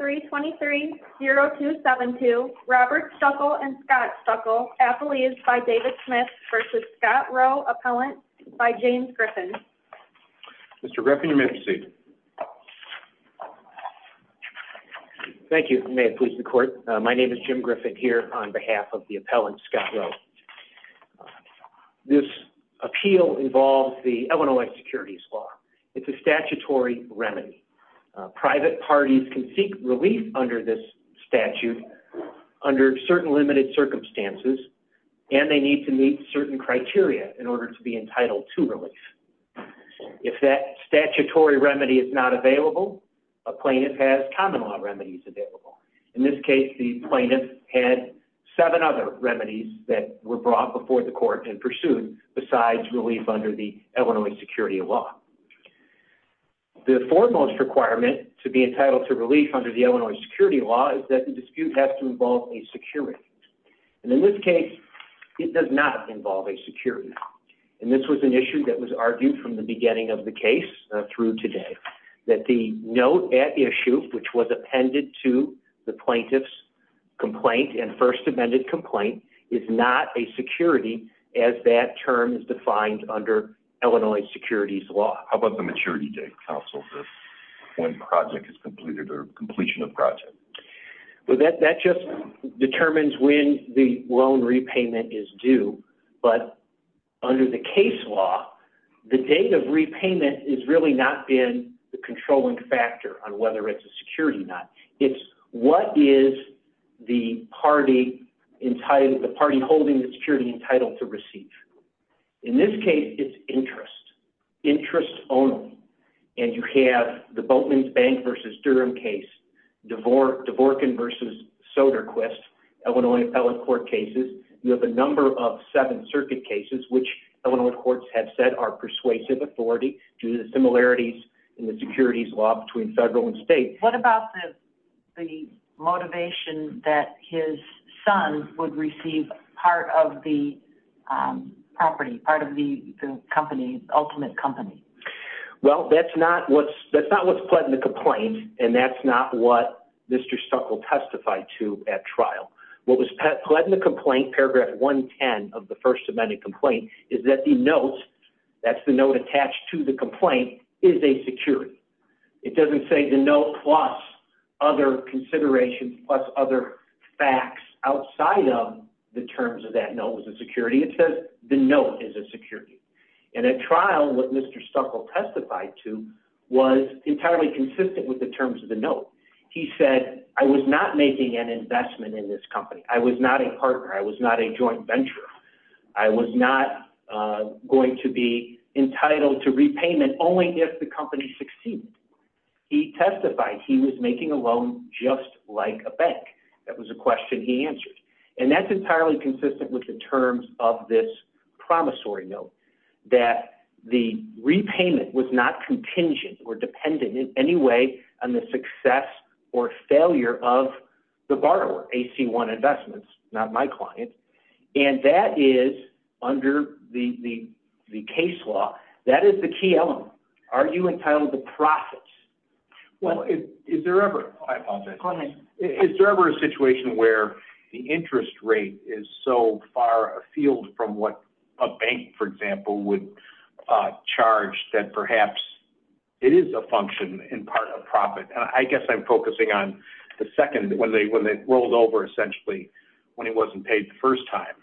323-0272 Robert Stuckel and Scott Stuckel, appellees by David Smith v. Scott Rowe, appellant by James Griffin. Mr. Griffin, you may have your seat. Thank you, may it please the court. My name is Jim Griffin here on behalf of the appellant, Scott Rowe. This appeal involves the Illinois securities law. It's a statutory remedy. Private parties can seek relief under this statute under certain limited circumstances, and they need to meet certain criteria in order to be entitled to relief. If that statutory remedy is not available, a plaintiff has common law remedies available. In this case, the plaintiff had seven other remedies that were under the Illinois security law. The foremost requirement to be entitled to relief under the Illinois security law is that the dispute has to involve a security. And in this case, it does not involve a security. And this was an issue that was argued from the beginning of the case through today, that the note at issue, which was appended to the plaintiff's complaint and first amended complaint, is not a security as that term is defined under Illinois securities law. How about the maturity date, counsel, for when the project is completed or completion of project? Well, that just determines when the loan repayment is due. But under the case law, the date of repayment is really not been the controlling factor on whether it's a security or not. It's what is the party holding the security entitled to receive. In this case, it's interest. Interest only. And you have the Boatman's Bank versus Durham case, Dvorkin versus Soderquist, Illinois appellate court cases. You have a number of seven circuit cases, which Illinois courts have said are persuasive authority due to similarities in the securities law between federal and state. What about the motivation that his son would receive part of the property, part of the company, ultimate company? Well, that's not what's pled in the complaint. And that's not what Mr. Stuckel testified to at trial. What was pled in the complaint, paragraph 110 of the first amended complaint, is that the note, that's the note attached to the complaint, is a security. It doesn't say the note plus other considerations, plus other facts outside of the terms of that note was a security. It says the note is a security. And at trial, what Mr. Stuckel testified to was entirely consistent with the terms of the note. He said, I was not making an investment in this company. I was not a partner. I was not a joint venture. I was not going to be entitled to repayment only if the company succeeded. He testified he was making a loan just like a bank. That was a question he answered. And that's entirely consistent with the terms of this promissory note, that the repayment was not contingent or dependent in any way on the success or failure of the borrower, AC-1 Investments, not my client. And that is, under the case law, that is the key element. Are you entitled to profits? Well, is there ever a situation where the interest rate is so far afield from what a bank, for example, would charge that perhaps it is a function in part of profit? I guess I'm focusing on the second, when they rolled over, essentially, when it wasn't paid the first time,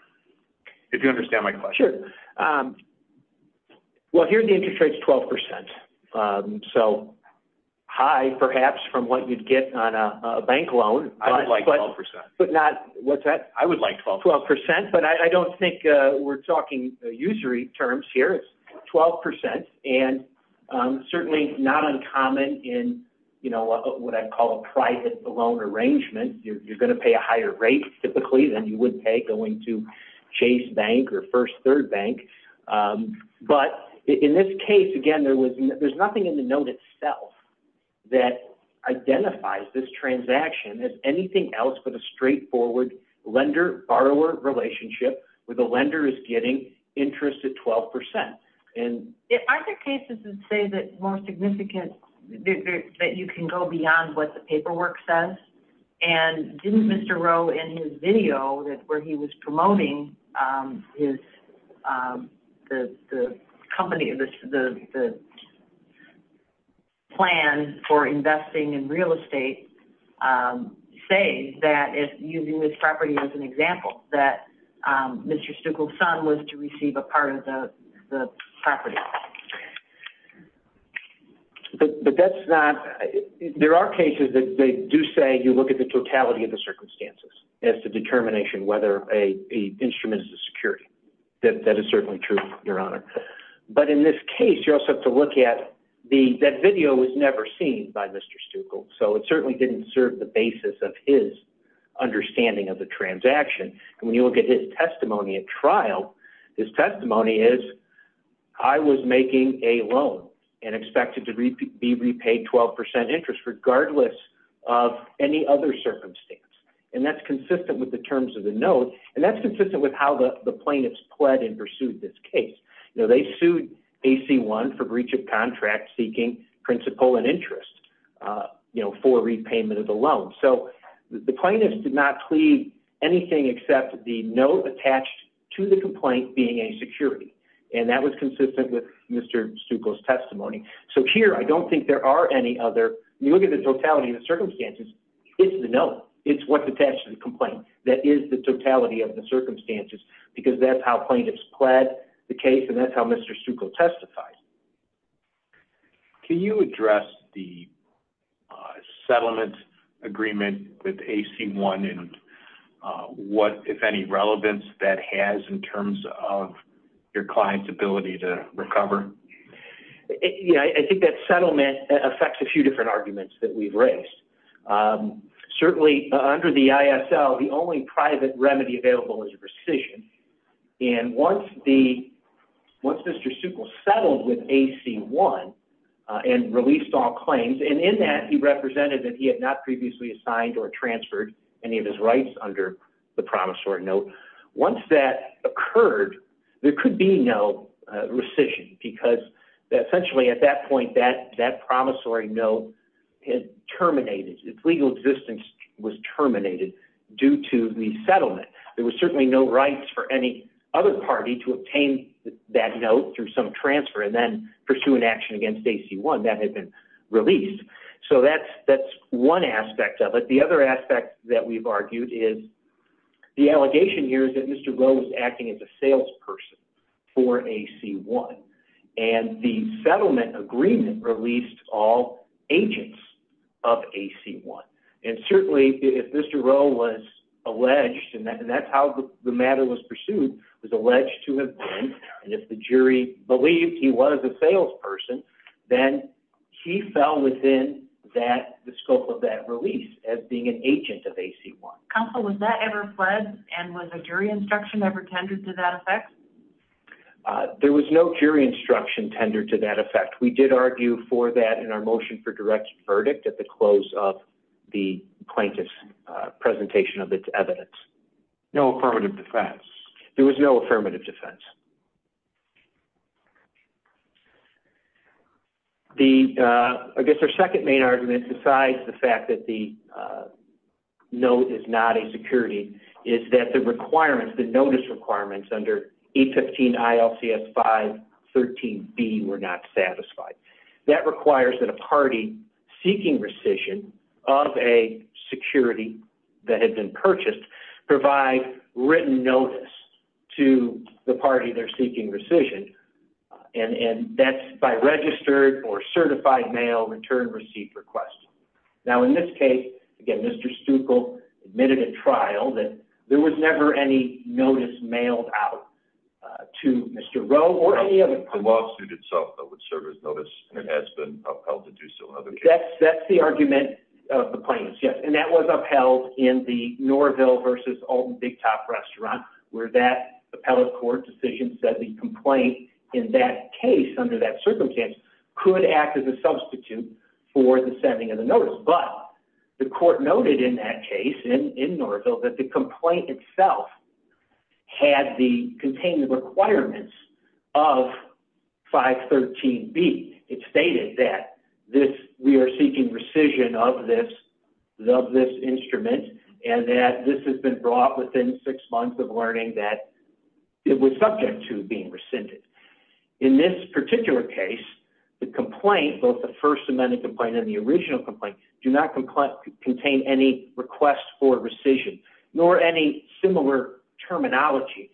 if you understand my question. Sure. Well, here the interest rate is 12%. So high, perhaps, from what you'd get on a bank loan. I would like 12%. But not, what's that? I would like 12%. But I don't think we're talking usury terms here. It's 12%. And certainly not uncommon in what I'd call a private loan arrangement. You're going to pay a higher rate, typically, than you would pay going to Chase Bank or First Third Bank. But in this case, again, there's nothing in the note itself that identifies this transaction as anything else but a straightforward lender-borrower relationship where the lender is getting interest at 12%. Are there cases that say that more significant, that you can go beyond what the paperwork says? And didn't Mr. Rowe, in his video where he was promoting the plan for investing in real estate, say that, using this property as an example, that Mr. Stuckel's son was to receive a part of the property? But that's not, there are cases that do say you look at the totality of the circumstances as the determination whether an instrument is a security. That is certainly true, Your Honor. But in this case, you also have to look at, that video was never seen by Mr. Stuckel. So it certainly didn't serve the basis of his understanding of the transaction. And when you look at his testimony at trial, his testimony is, I was making a loan and expected to be repaid 12% interest regardless of any other circumstance. And that's consistent with the terms of the note, and that's consistent with how the plaintiffs pled and pursued this case. They sued AC-1 for contract-seeking principal and interest for repayment of the loan. So the plaintiffs did not plead anything except the note attached to the complaint being a security. And that was consistent with Mr. Stuckel's testimony. So here, I don't think there are any other, you look at the totality of the circumstances, it's the note. It's what's attached to the complaint. That is the totality of the circumstances, because that's how plaintiffs pled the case and that's how Mr. Stuckel testified. Can you address the settlement agreement with AC-1 and what, if any, relevance that has in terms of your client's ability to recover? Yeah, I think that settlement affects a few different arguments that we've raised. Certainly, under the ISL, the only private remedy available is a rescission. And once Mr. Stuckel settled with AC-1 and released all claims, and in that, he represented that he had not previously assigned or transferred any of his rights under the promissory note, once that occurred, there would be no rescission, because essentially, at that point, that promissory note had terminated, its legal existence was terminated due to the settlement. There was certainly no rights for any other party to obtain that note through some transfer and then pursue an action against AC-1 that had been released. So that's one aspect of it. The other aspect that we've argued is the allegation here is that Mr. Rowe was acting as a salesperson for AC-1 and the settlement agreement released all agents of AC-1. And certainly, if Mr. Rowe was alleged, and that's how the matter was pursued, was alleged to have been, and if the jury believed he was a salesperson, then he fell within the scope of that release as being an agent of AC-1. Counsel, was that ever fled, and was a jury instruction ever tendered to that effect? There was no jury instruction tendered to that effect. We did argue for that in our motion for direct verdict at the close of the plaintiff's presentation of its evidence. No affirmative defense? There was no affirmative defense. The, I guess our second main argument, besides the fact that the note is not a security, is that the requirements, the notice requirements under 815 ILCS 513B were not satisfied. That requires that a party seeking rescission of a security that had been purchased provide written notice to the party they're seeking rescission, and that's by registered or certified mail return receipt request. Now, in this case, again, Mr. Stuckel admitted at trial that there was never any notice mailed out to Mr. Rowe or any other person. The lawsuit itself that would serve as notice, and it has been upheld to do so in other cases. That's the argument of the plaintiffs, yes, and that was upheld in the Norville versus Olden Big Top restaurant, where that appellate court decision said the complaint in that case under that circumstance could act as a substitute for the sending of the notice. But the court noted in that case, in Norville, that the complaint itself had the contained requirements of 513B. It stated that we are seeking rescission of this instrument, and that this has been brought within six months of learning that it was subject to being rescinded. In this particular case, the complaint, both the First Amendment complaint and the original complaint, do not contain any request for rescission, nor any similar terminology.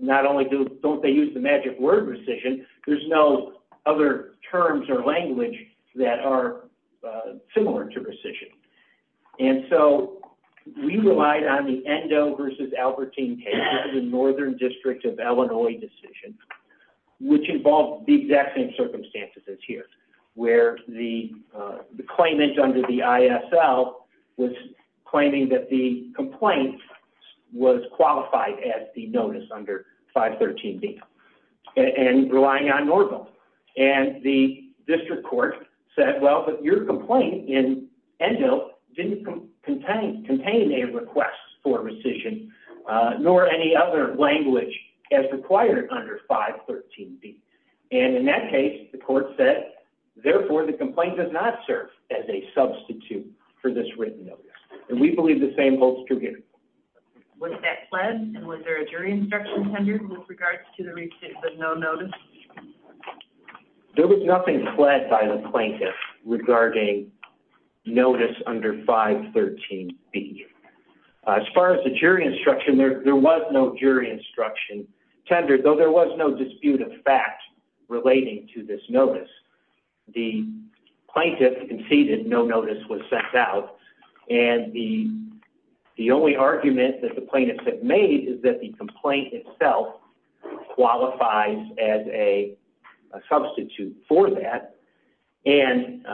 Not only don't they use the magic word rescission, there's no other terms or language that are similar to rescission. And so we relied on the Endo versus Albertine case of the Northern District of Illinois decision, which involved the exact same circumstances as here, where the claimant under the ISL was claiming that the complaint was qualified as the notice under 513B, and relying on Norville. And the district court said, well, but your complaint in Endo didn't contain a request for rescission, nor any other language as required under 513B. And in that case, the court said, therefore, the complaint does not serve as a substitute for this written notice. And we believe the same holds true here. Was that pled, and was there a jury instruction tender with regards to the no notice? There was nothing pled by the plaintiff regarding notice under 513B. As far as the jury instruction, there was no jury instruction tender, though there was no dispute of fact relating to this notice. The plaintiff conceded no notice was sent out. And the only argument that the plaintiffs have made is that the complaint itself qualifies as a substitute for that. And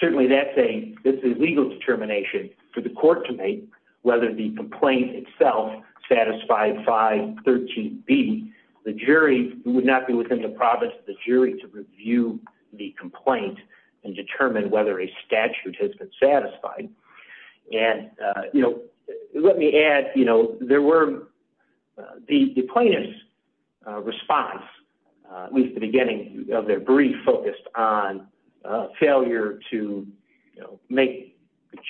certainly, that's a legal determination for the court to make, whether the complaint itself satisfied 513B. The jury would not be within the province of the jury to review the complaint and determine whether a statute has been satisfied. And, you know, let me add, you know, there were the plaintiff's response, at least the beginning of their brief, focused on failure to, you know, make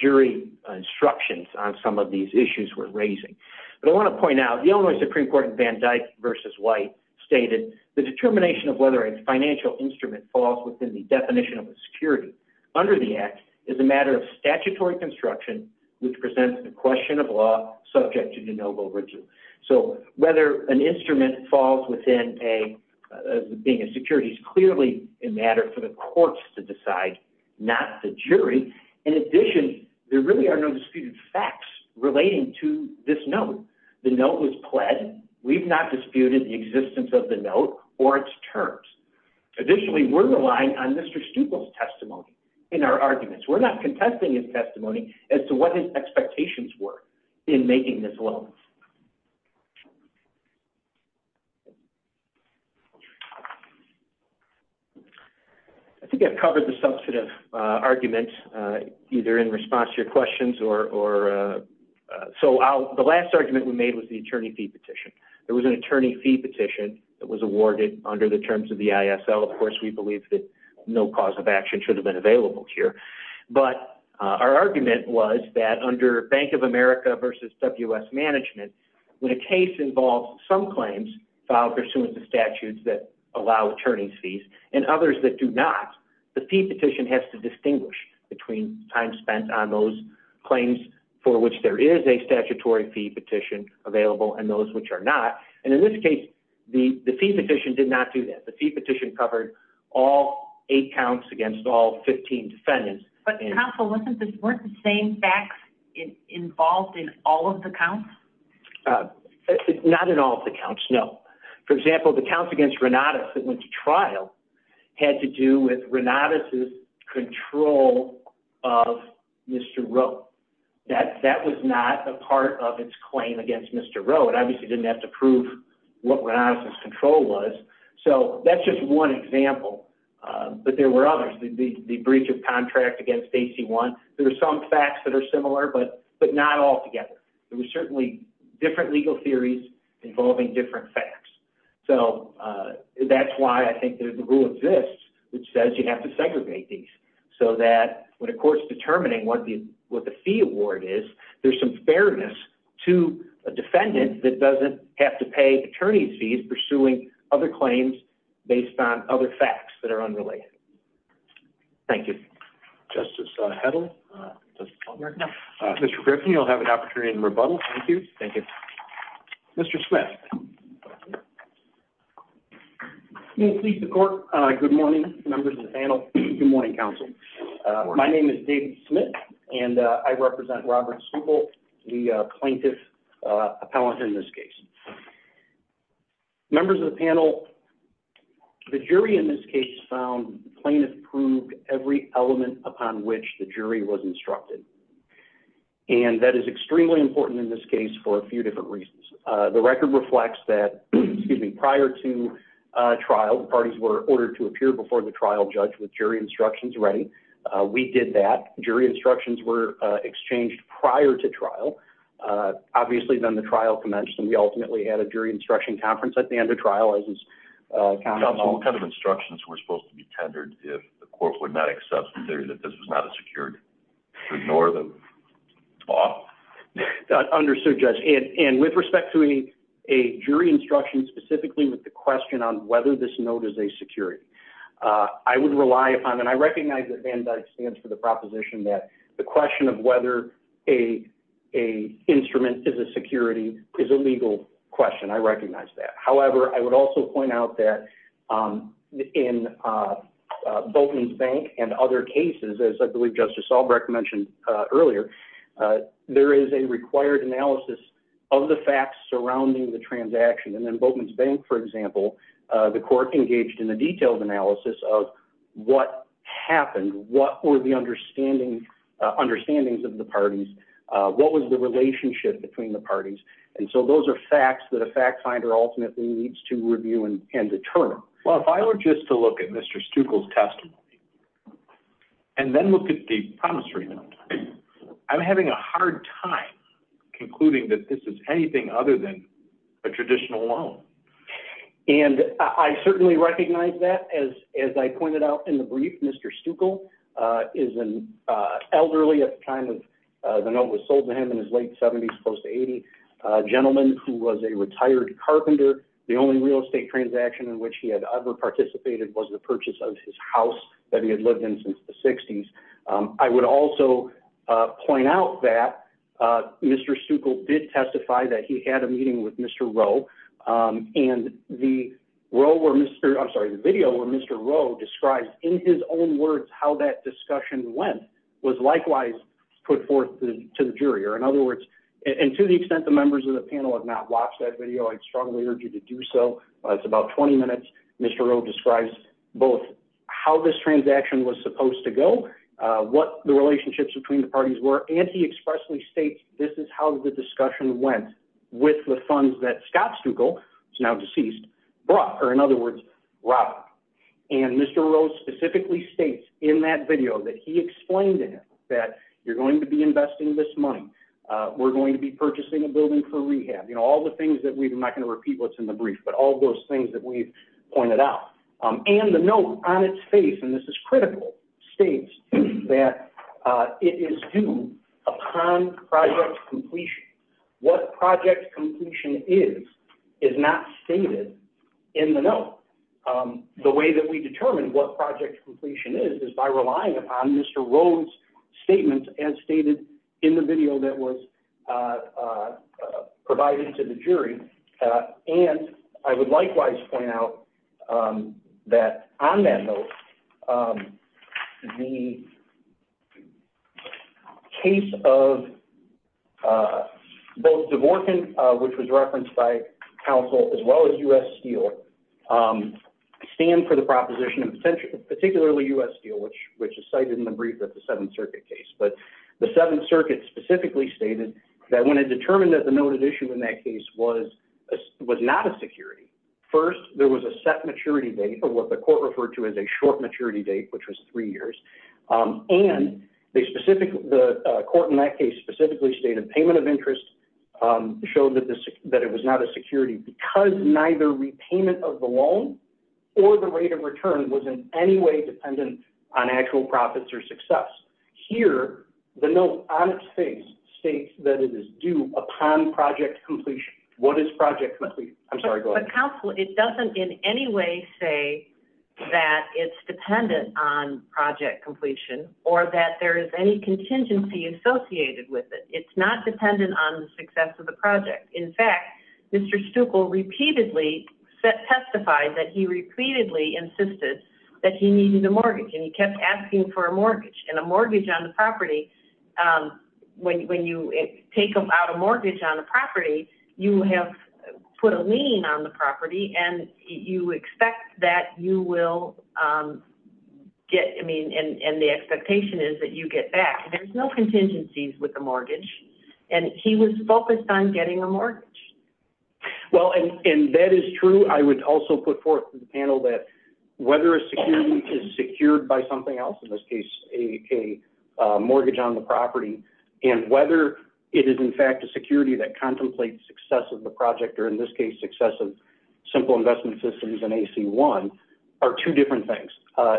jury instructions on some of these issues we're raising. But I want to point out, the Illinois Supreme Court in Van Dyck v. White stated, the determination of whether a financial instrument falls within the definition of a security under the Act is a matter of statutory construction which presents the question of law subject to de novo regime. So whether an instrument falls within being a security is clearly a matter for the courts to decide, not the jury. In addition, there really are no disputed facts relating to this note. The note was pled. We've not disputed the existence of the note or its terms. Additionally, we're relying on Mr. Stucol's testimony in our arguments. We're not contesting his testimony as to what his expectations were in making this loan. I think I've covered the substantive argument either in response to your questions or so the last argument we made was the attorney fee petition. There was an attorney fee petition that was awarded under the terms of the ISL. Of course, we believe that no cause of action should have been available here. But our argument was that under Bank of America versus WS Management, when a case involves some claims filed pursuant to statutes that allow attorney fees and others that do not, the fee petition has to distinguish between time spent on those claims for which there is a statutory fee petition available and those which are not. And in this case, the fee petition did not do that. The fee petition covered all eight counts against all 15 defendants. Counsel, weren't the same facts involved in all of the counts? Not in all of the counts, no. For example, the counts against Renatus that went to trial had to do with Renatus' control of Mr. Rowe. That was not a part of its claim against Mr. Rowe. It obviously didn't have to prove what Renatus' control was. So that's just one example. But there were others. The breach of contract against AC-1. There are some facts that are similar, but not all together. There were certainly different legal theories involving different facts. So that's why I think the rule exists which says you have to segregate these so that when a court's determining what the fee award is, there's some fairness to a defendant that doesn't have to pay attorney fees pursuing other claims based on other facts that are unrelated. Thank you. Justice Hedl. Mr. Griffin, you'll have an opportunity to rebuttal. Thank you. Mr. Smith. Good morning, members of the panel. Good morning, counsel. My name is David Smith, and I represent Robert Stuple, the plaintiff appellant in this case. Members of the panel, the jury in this case found the plaintiff proved every element upon which the jury was instructed. And that is extremely important in this case for a few different reasons. The record reflects that prior to trial, parties were ordered to appear before the trial judge with jury instructions ready. We did that. Jury instructions were exchanged prior to trial. Obviously, then the trial commenced, and we ultimately did that. We had a jury instruction conference at the end of trial. What kind of instructions were supposed to be tendered if the court would not accept that this was not a security? Ignore the law? Understood, Judge. And with respect to a jury instruction specifically with the question on whether this note is a security, I would rely upon, and I recognize that Van Dyck stands for the proposition that the question of whether a instrument is a security is a legal question. I recognize that. However, I would also point out that in Boatman's Bank and other cases, as I believe Justice Albrecht mentioned earlier, there is a required analysis of the facts surrounding the transaction. And in Boatman's Bank, for example, the court engaged in a detailed analysis of what happened, what were the understandings of the parties, what was the relationship between the parties. And so those are facts that a fact finder ultimately needs to review and determine. Well, if I were just to look at Mr. Stuckel's testimony, and then look at the promissory note, I'm having a hard time concluding that this is anything other than a traditional loan. And I certainly recognize that. As I pointed out in the brief, Mr. Stuckel is an elderly at the time of the note was sold to him in his late 70s, close to 80, gentleman who was a retired carpenter. The only real estate transaction in which he had ever participated was the purchase of his house that he had lived in since the 60s. I would also point out that Mr. Stuckel did testify that he had a meeting with Mr. Rowe and the video where Mr. Rowe described in his own words how that discussion went was likewise put forth to the jury. Or in other words, and to the extent the members of the panel have not watched that video, I'd strongly urge you to do so. It's about 20 minutes. Mr. Rowe describes both how this transaction was supposed to go, what the relationships between the parties were, and he expressly states this is how the discussion went with funds that Scott Stuckel, who is now deceased, brought. Or in other words, robbed. And Mr. Rowe specifically states in that video that he explained to him that you're going to be investing this money, we're going to be purchasing a building for rehab, you know, all the things that we've, I'm not going to repeat what's in the brief, but all those things that we've pointed out. And the note on its face, and this is critical, states that it is due upon project completion. What project completion is, is not stated in the note. The way that we determine what project completion is, is by relying upon Mr. Rowe's statement as stated in the video that was provided to the jury. And I would likewise point out that on that note, the case of both Dvorkin, which was referenced by counsel, as well as U.S. Steele, stand for the proposition of, particularly U.S. Steele, which is cited in the brief of the Seventh Circuit case. But the Seventh Circuit specifically stated that when it determined that the noted issue in that case was not a security, first, there was a set maturity date, or what the court referred to as a short maturity date, which was three years. And the court in that case specifically stated payment of interest, showed that it was not a security because neither repayment of the loan or the rate of return was in any way dependent on actual profits or success. Here, the note on its face states that it is due upon project completion. What is project completion? I'm sorry, go ahead. But counsel, it doesn't in any way say that it's dependent on project completion or that there is any contingency associated with it. It's not dependent on the success of the project. In fact, Mr. Stuckel repeatedly testified that he repeatedly insisted that he needed a mortgage, and he kept asking for a mortgage. And a mortgage on the property, when you take out a mortgage on a property, you have put a lien on the property, and you expect that you will get, I mean, and the expectation is that you get back. There's no contingencies with the mortgage. And he was focused on getting a mortgage. Well, and that is true. I would also put forth to the panel that whether a security is secured by something else, in this case, a mortgage on the property, and whether it is, in fact, a security that contemplates success of the project, or in this case, success of Simple Investment Systems and AC-1, are two different things.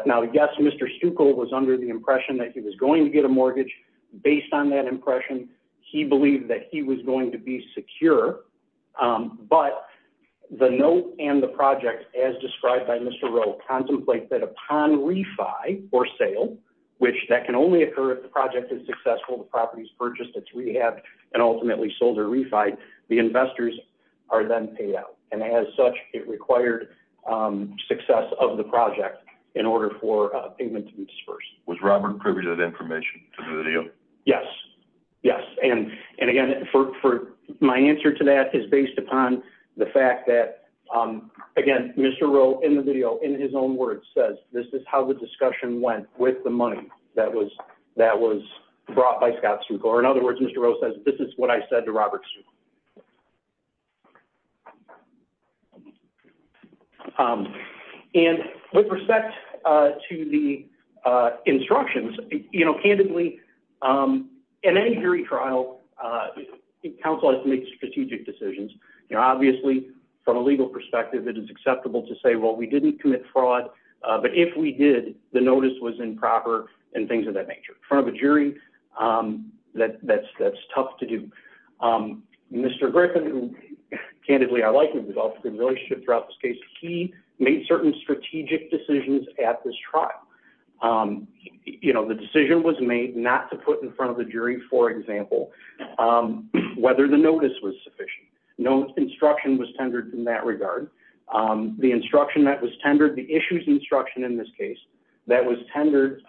Now, I guess Mr. Stuckel was under the impression that he was going to get a mortgage. Based on that impression, he believed that he was going to be secure. But the note and the project, as described by Mr. Rowe, contemplate that upon refi or sale, which that can only occur if the project is successful, the property is purchased, it's rehabbed, and ultimately sold or refied, the investors are then paid out. And as such, it required success of the project in order for payment to be disbursed. Was Robert privy to that information, to the deal? Yes. Yes. And again, my answer to that is based upon the fact that, again, Mr. Rowe, in the video, in his own words, says, this is how the discussion went with the money that was brought by Scott Stuckel. Or in other words, Mr. Rowe says, this is what I said to Robert Stuckel. And with respect to the instructions, candidly, in any jury trial, counsel has to make strategic decisions. You know, obviously, from a legal perspective, it is acceptable to say, well, we didn't commit fraud. But if we did, the notice was improper and things of that nature. In front of a jury, that's tough to do. Mr. Griffin, who candidly, I like him, developed a good relationship throughout this case, he made certain strategic decisions at this trial. The decision was made not to put in front of the jury, for example, whether the notice was sufficient. No instruction was tendered in that regard. The instruction that was tendered, the issues instruction in this case, that was tendered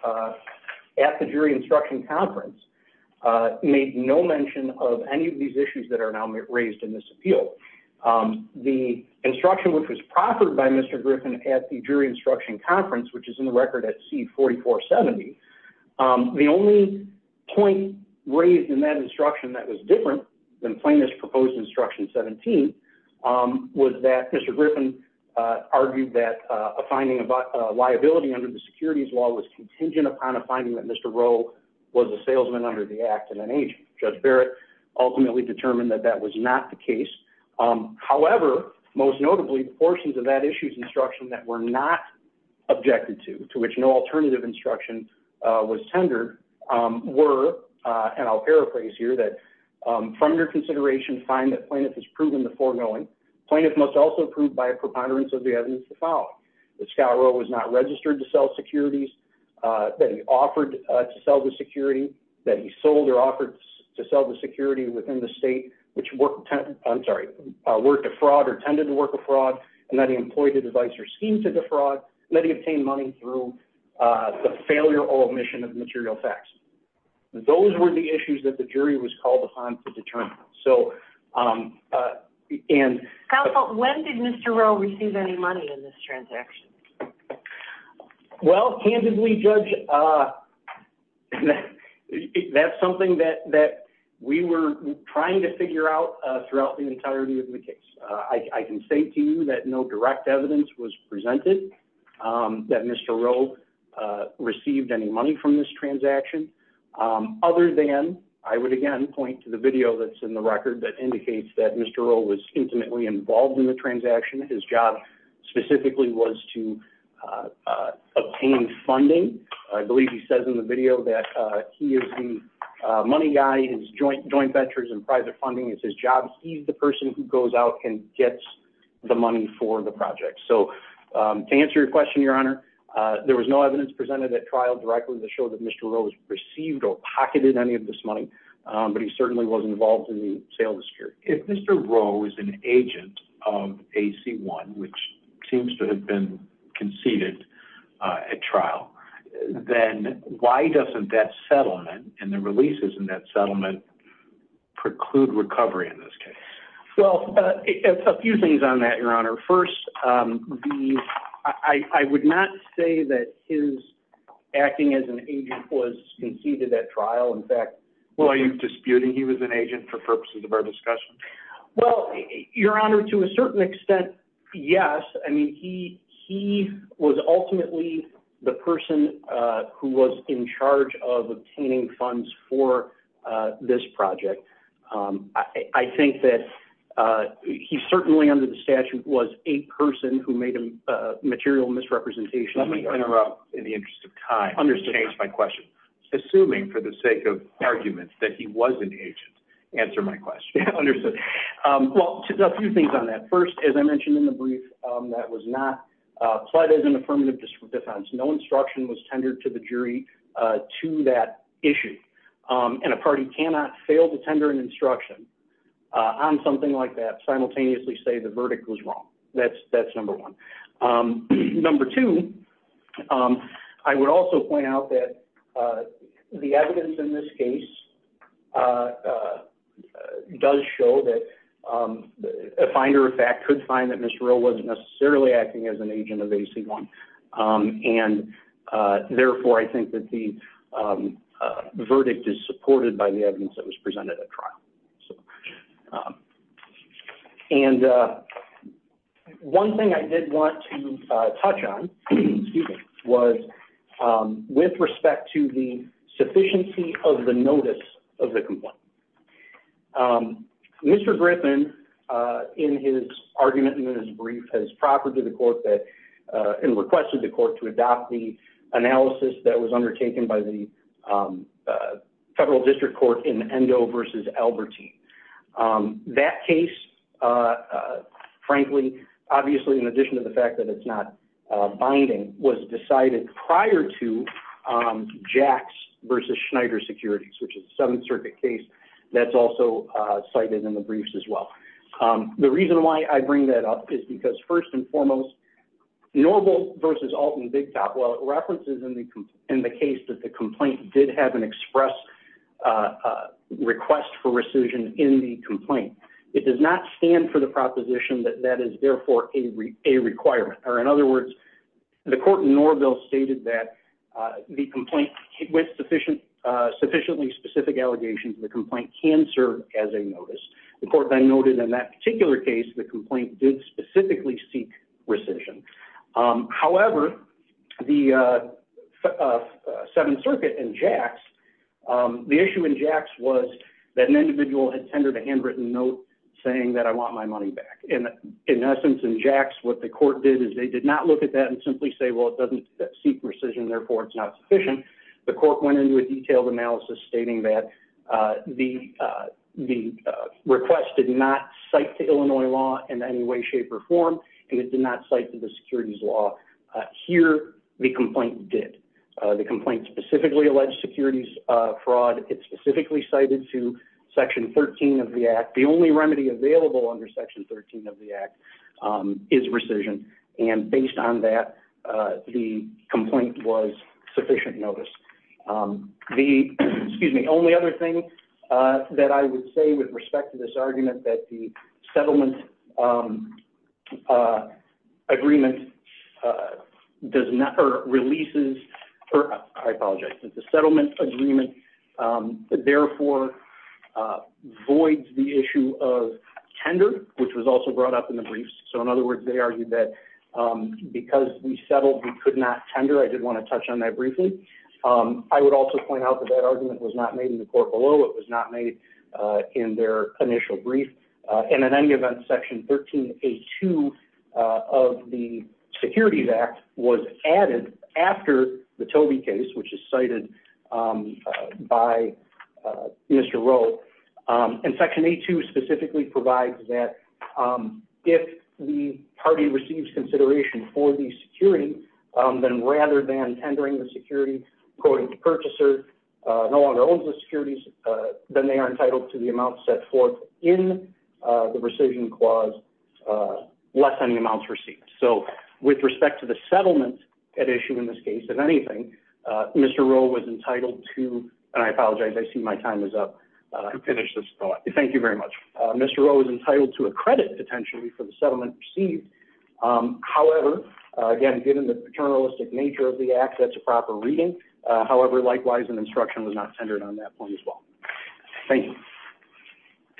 at the jury instruction conference, made no mention of any of these issues that are now raised in this appeal. The instruction which was proffered by Mr. Griffin at the jury instruction conference, which is in the record at C4470, the only point raised in that instruction that was different than plaintiff's proposed instruction 17, was that Mr. Griffin argued that a finding of liability under the securities law was contingent upon a finding that Mr. Rowe was a salesman under the act and an agent. Judge Barrett ultimately determined that that was not the case. However, most notably, portions of that issue's instruction that were not objected to, to which no alternative instruction was tendered, were, and I'll paraphrase here, that from your consideration, find that plaintiff has proven the foreknowing, plaintiff must also be approved by a preponderance of the evidence to follow, that Scott Rowe was not registered to sell securities, that he offered to sell the security, that he sold or offered to sell the security within the state, which worked, I'm sorry, worked a fraud or tended to work a fraud, and that he employed a device or scheme to defraud, and that he obtained money through the failure or omission of material facts. Those were the issues that the jury was called upon to determine. So, and... Counsel, when did Mr. Rowe receive any money in this transaction? Well, candidly, Judge, that's something that we were trying to figure out throughout the entirety of the case. I can say to you that no direct evidence was presented that Mr. Rowe received any money from this transaction, other than, I would again point to the video that's in the record that indicates that Mr. Rowe was intimately involved in the transaction. His job specifically was to obtain funding. I believe he says in the video that he is the money guy, his joint venture is in private funding, it's his job, he's the person who goes out and gets the money for the project. So, to answer your question, Your Honor, there was no evidence presented at trial directly to show that Mr. Rowe received or pocketed any of this money, but he certainly was involved in the sale dispute. If Mr. Rowe is an agent of AC-1, which seems to have been conceded at trial, then why doesn't that settlement and the releases in that settlement preclude recovery in this case? Well, a few things on that, Your Honor. First, I would not say that his acting as an agent was conceded at trial. In fact, are you disputing he was an agent for purposes of our discussion? Well, Your Honor, to a certain extent, yes. I mean, he was ultimately the person who was in charge of obtaining funds for this project. I think that he certainly, under the statute, was a person who made a material misrepresentation. Let me interrupt in the interest of time to change my question. Assuming, for the sake of argument, that he was an agent, answer my question. Understood. Well, a few things on that. First, as I mentioned in the brief, that was not pled as an affirmative defense. No instruction was tendered to the jury to that issue. And a party cannot fail to tender an instruction on something like that, simultaneously say the verdict was wrong. That's number one. Number two, I would also point out that the evidence in this case does show that a finder, in fact, could find that Mr. Rowe wasn't necessarily acting as an agent of AC-1. And therefore, I think that the verdict is supported by the evidence that was presented at trial. And one thing I did want to touch on, excuse me, was with respect to the sufficiency of the notice of the complaint. Mr. Griffin, in his argument in his brief, has proffered to the court that, and requested the court to adopt the analysis that was undertaken by the federal district court in Endo v. Albertine. That case, frankly, obviously, in addition to the fact that it's not binding, was decided prior to on Jacks v. Schneider securities, which is a Seventh Circuit case that's also cited in the briefs as well. The reason why I bring that up is because, first and foremost, Norville v. Alton Big Top, while it references in the case that the complaint did have an express request for rescission in the complaint, it does not stand for the proposition that that is, therefore, a requirement. In other words, the court in Norville stated that the complaint, with sufficiently specific allegations, the complaint can serve as a notice. The court then noted in that particular case, the complaint did specifically seek rescission. However, the Seventh Circuit and Jacks, the issue in Jacks was that an individual had tendered a handwritten note saying that I want my money back. In essence, in Jacks, what the court did is they did not look at that and simply say, well, it doesn't seek rescission, therefore, it's not sufficient. The court went into a detailed analysis stating that the request did not cite to Illinois law in any way, shape, or form, and it did not cite to the securities law. Here, the complaint did. The complaint specifically alleged securities fraud. It specifically cited to Section 13 of the Act. The only remedy available under Section 13 of the Act is rescission, and based on that, the complaint was sufficient notice. The only other thing that I would say with respect to this argument that the settlement agreement does not, or releases, I apologize, the settlement agreement, therefore, avoids the issue of tender, which was also brought up in the briefs. In other words, they argued that because we settled, we could not tender. I did want to touch on that briefly. I would also point out that that argument was not made in the court below. It was not made in their initial brief, and in any event, Section 13A2 of the Securities Act was added after the Toby case, which is cited by Mr. Rowe, and Section A2 specifically provides that if the party receives consideration for the security, then rather than tendering the security according to purchaser, no longer owns the securities, then they are entitled to the amount set forth in the rescission clause less than the amount received. With respect to the settlement at issue in this case, if anything, Mr. Rowe was entitled to, and I apologize, I see my time is up. Thank you very much. Mr. Rowe was entitled to a credit, potentially, for the settlement received. However, again, given the paternalistic nature of the act, that's a proper reading. However, likewise, an instruction was not tendered on that point as well. Thank you.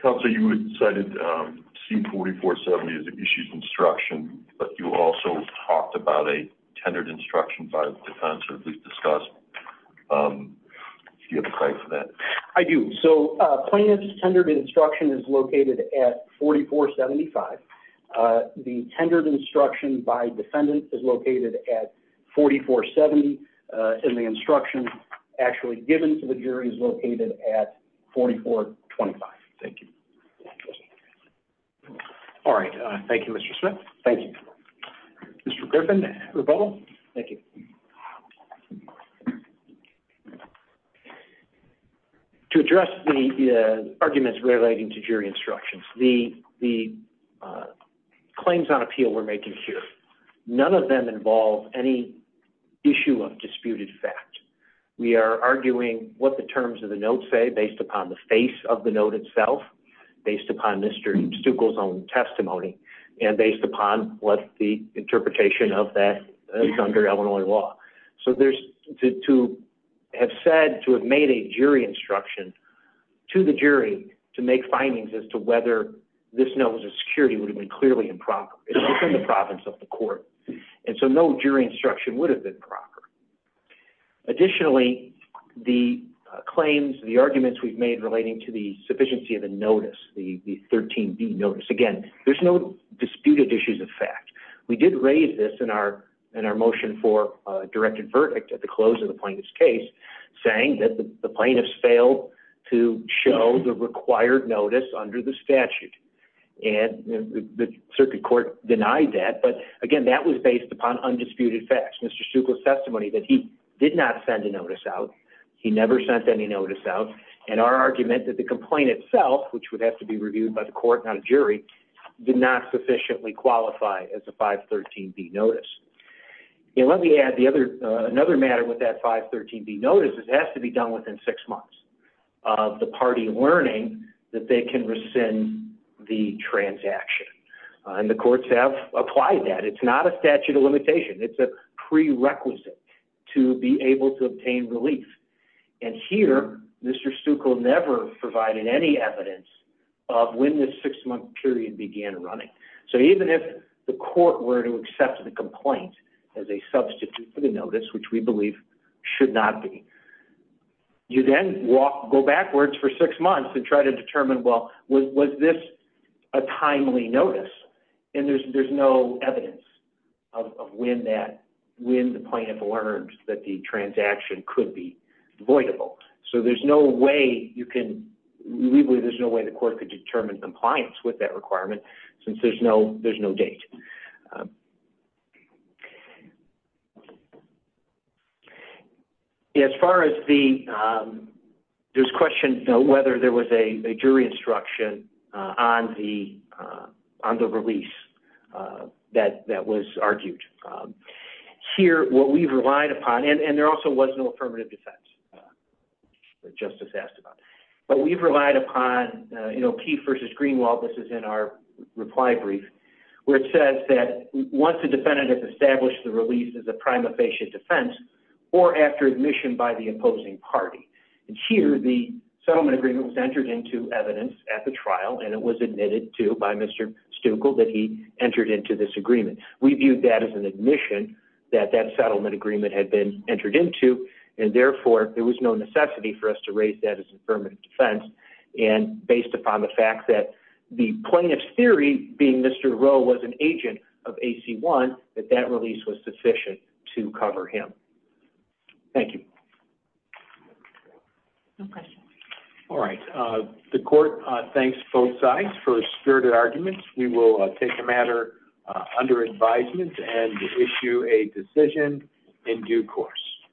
Counsel, you had cited C4470 as an issued instruction, but you also talked about a tendered instruction by the defense, or at least discussed. Do you have a claim for that? I do. Plaintiff's tendered instruction is located at 4475. The tendered instruction by defendant is located at 4470, and the instruction actually given to jury is located at 4425. Thank you. All right. Thank you, Mr. Smith. Thank you. Mr. Griffin, rebuttal. Thank you. To address the arguments relating to jury instructions, the claims on appeal we're making here, none of them involve any issue of disputed fact. We are arguing what the terms of the note say based upon the face of the note itself, based upon Mr. Stuckel's own testimony, and based upon what the interpretation of that is under Illinois law. So to have said, to have made a jury instruction to the jury to make findings as to whether this note was a security would have been clearly improper. It's within the province of the court, and so no jury instruction would have been proper. Additionally, the claims, the arguments we've made relating to the sufficiency of the notice, the 13B notice, again, there's no disputed issues of fact. We did raise this in our motion for a directed verdict at the close of the plaintiff's case, saying that the plaintiffs failed to show the required notice under the statute. And the circuit court denied that, but again, that was based upon undisputed facts. Mr. Stuckel's testimony that he did not send a notice out, he never sent any notice out, and our argument that the complaint itself, which would have to be reviewed by the court, not a jury, did not sufficiently qualify as a 513B notice. Let me add, another matter with that 513B notice is it has to be done within six months of the party learning that they can rescind the transaction. And the courts have applied that. It's not a statute of limitation. It's a prerequisite to be able to obtain relief. And here, Mr. Stuckel never provided any evidence of when this six-month period began running. So even if the court were to accept the complaint as a substitute for the notice, which we believe should not be, you then go backwards for six months and try to determine, was this a timely notice? And there's no evidence of when the plaintiff learned that the transaction could be voidable. So there's no way you can, we believe there's no way the court could determine compliance with that requirement since there's no date. As far as the, there's question whether there was a jury instruction on the release that was argued. Here, what we've relied upon, and there also was no affirmative defense, that Justice asked about. But we've relied upon, you know, Keefe versus Greenwald, this is in our reply brief, where it says that once the defendant has established the release as a prima facie defense or after admission by the opposing party. And here, the settlement agreement was entered into evidence at the trial, and it was admitted to by Mr. Stuckel that he entered into this agreement. We viewed that as an admission that that settlement agreement had been entered into. And therefore, there was no necessity for us to raise that as affirmative defense. And based upon the fact that the plaintiff's theory, being Mr. Rowe was an agent of AC-1, that that release was sufficient to cover him. Thank you. All right. The court thanks both sides for spirited arguments. We will take the matter under advisement and issue a decision in due course.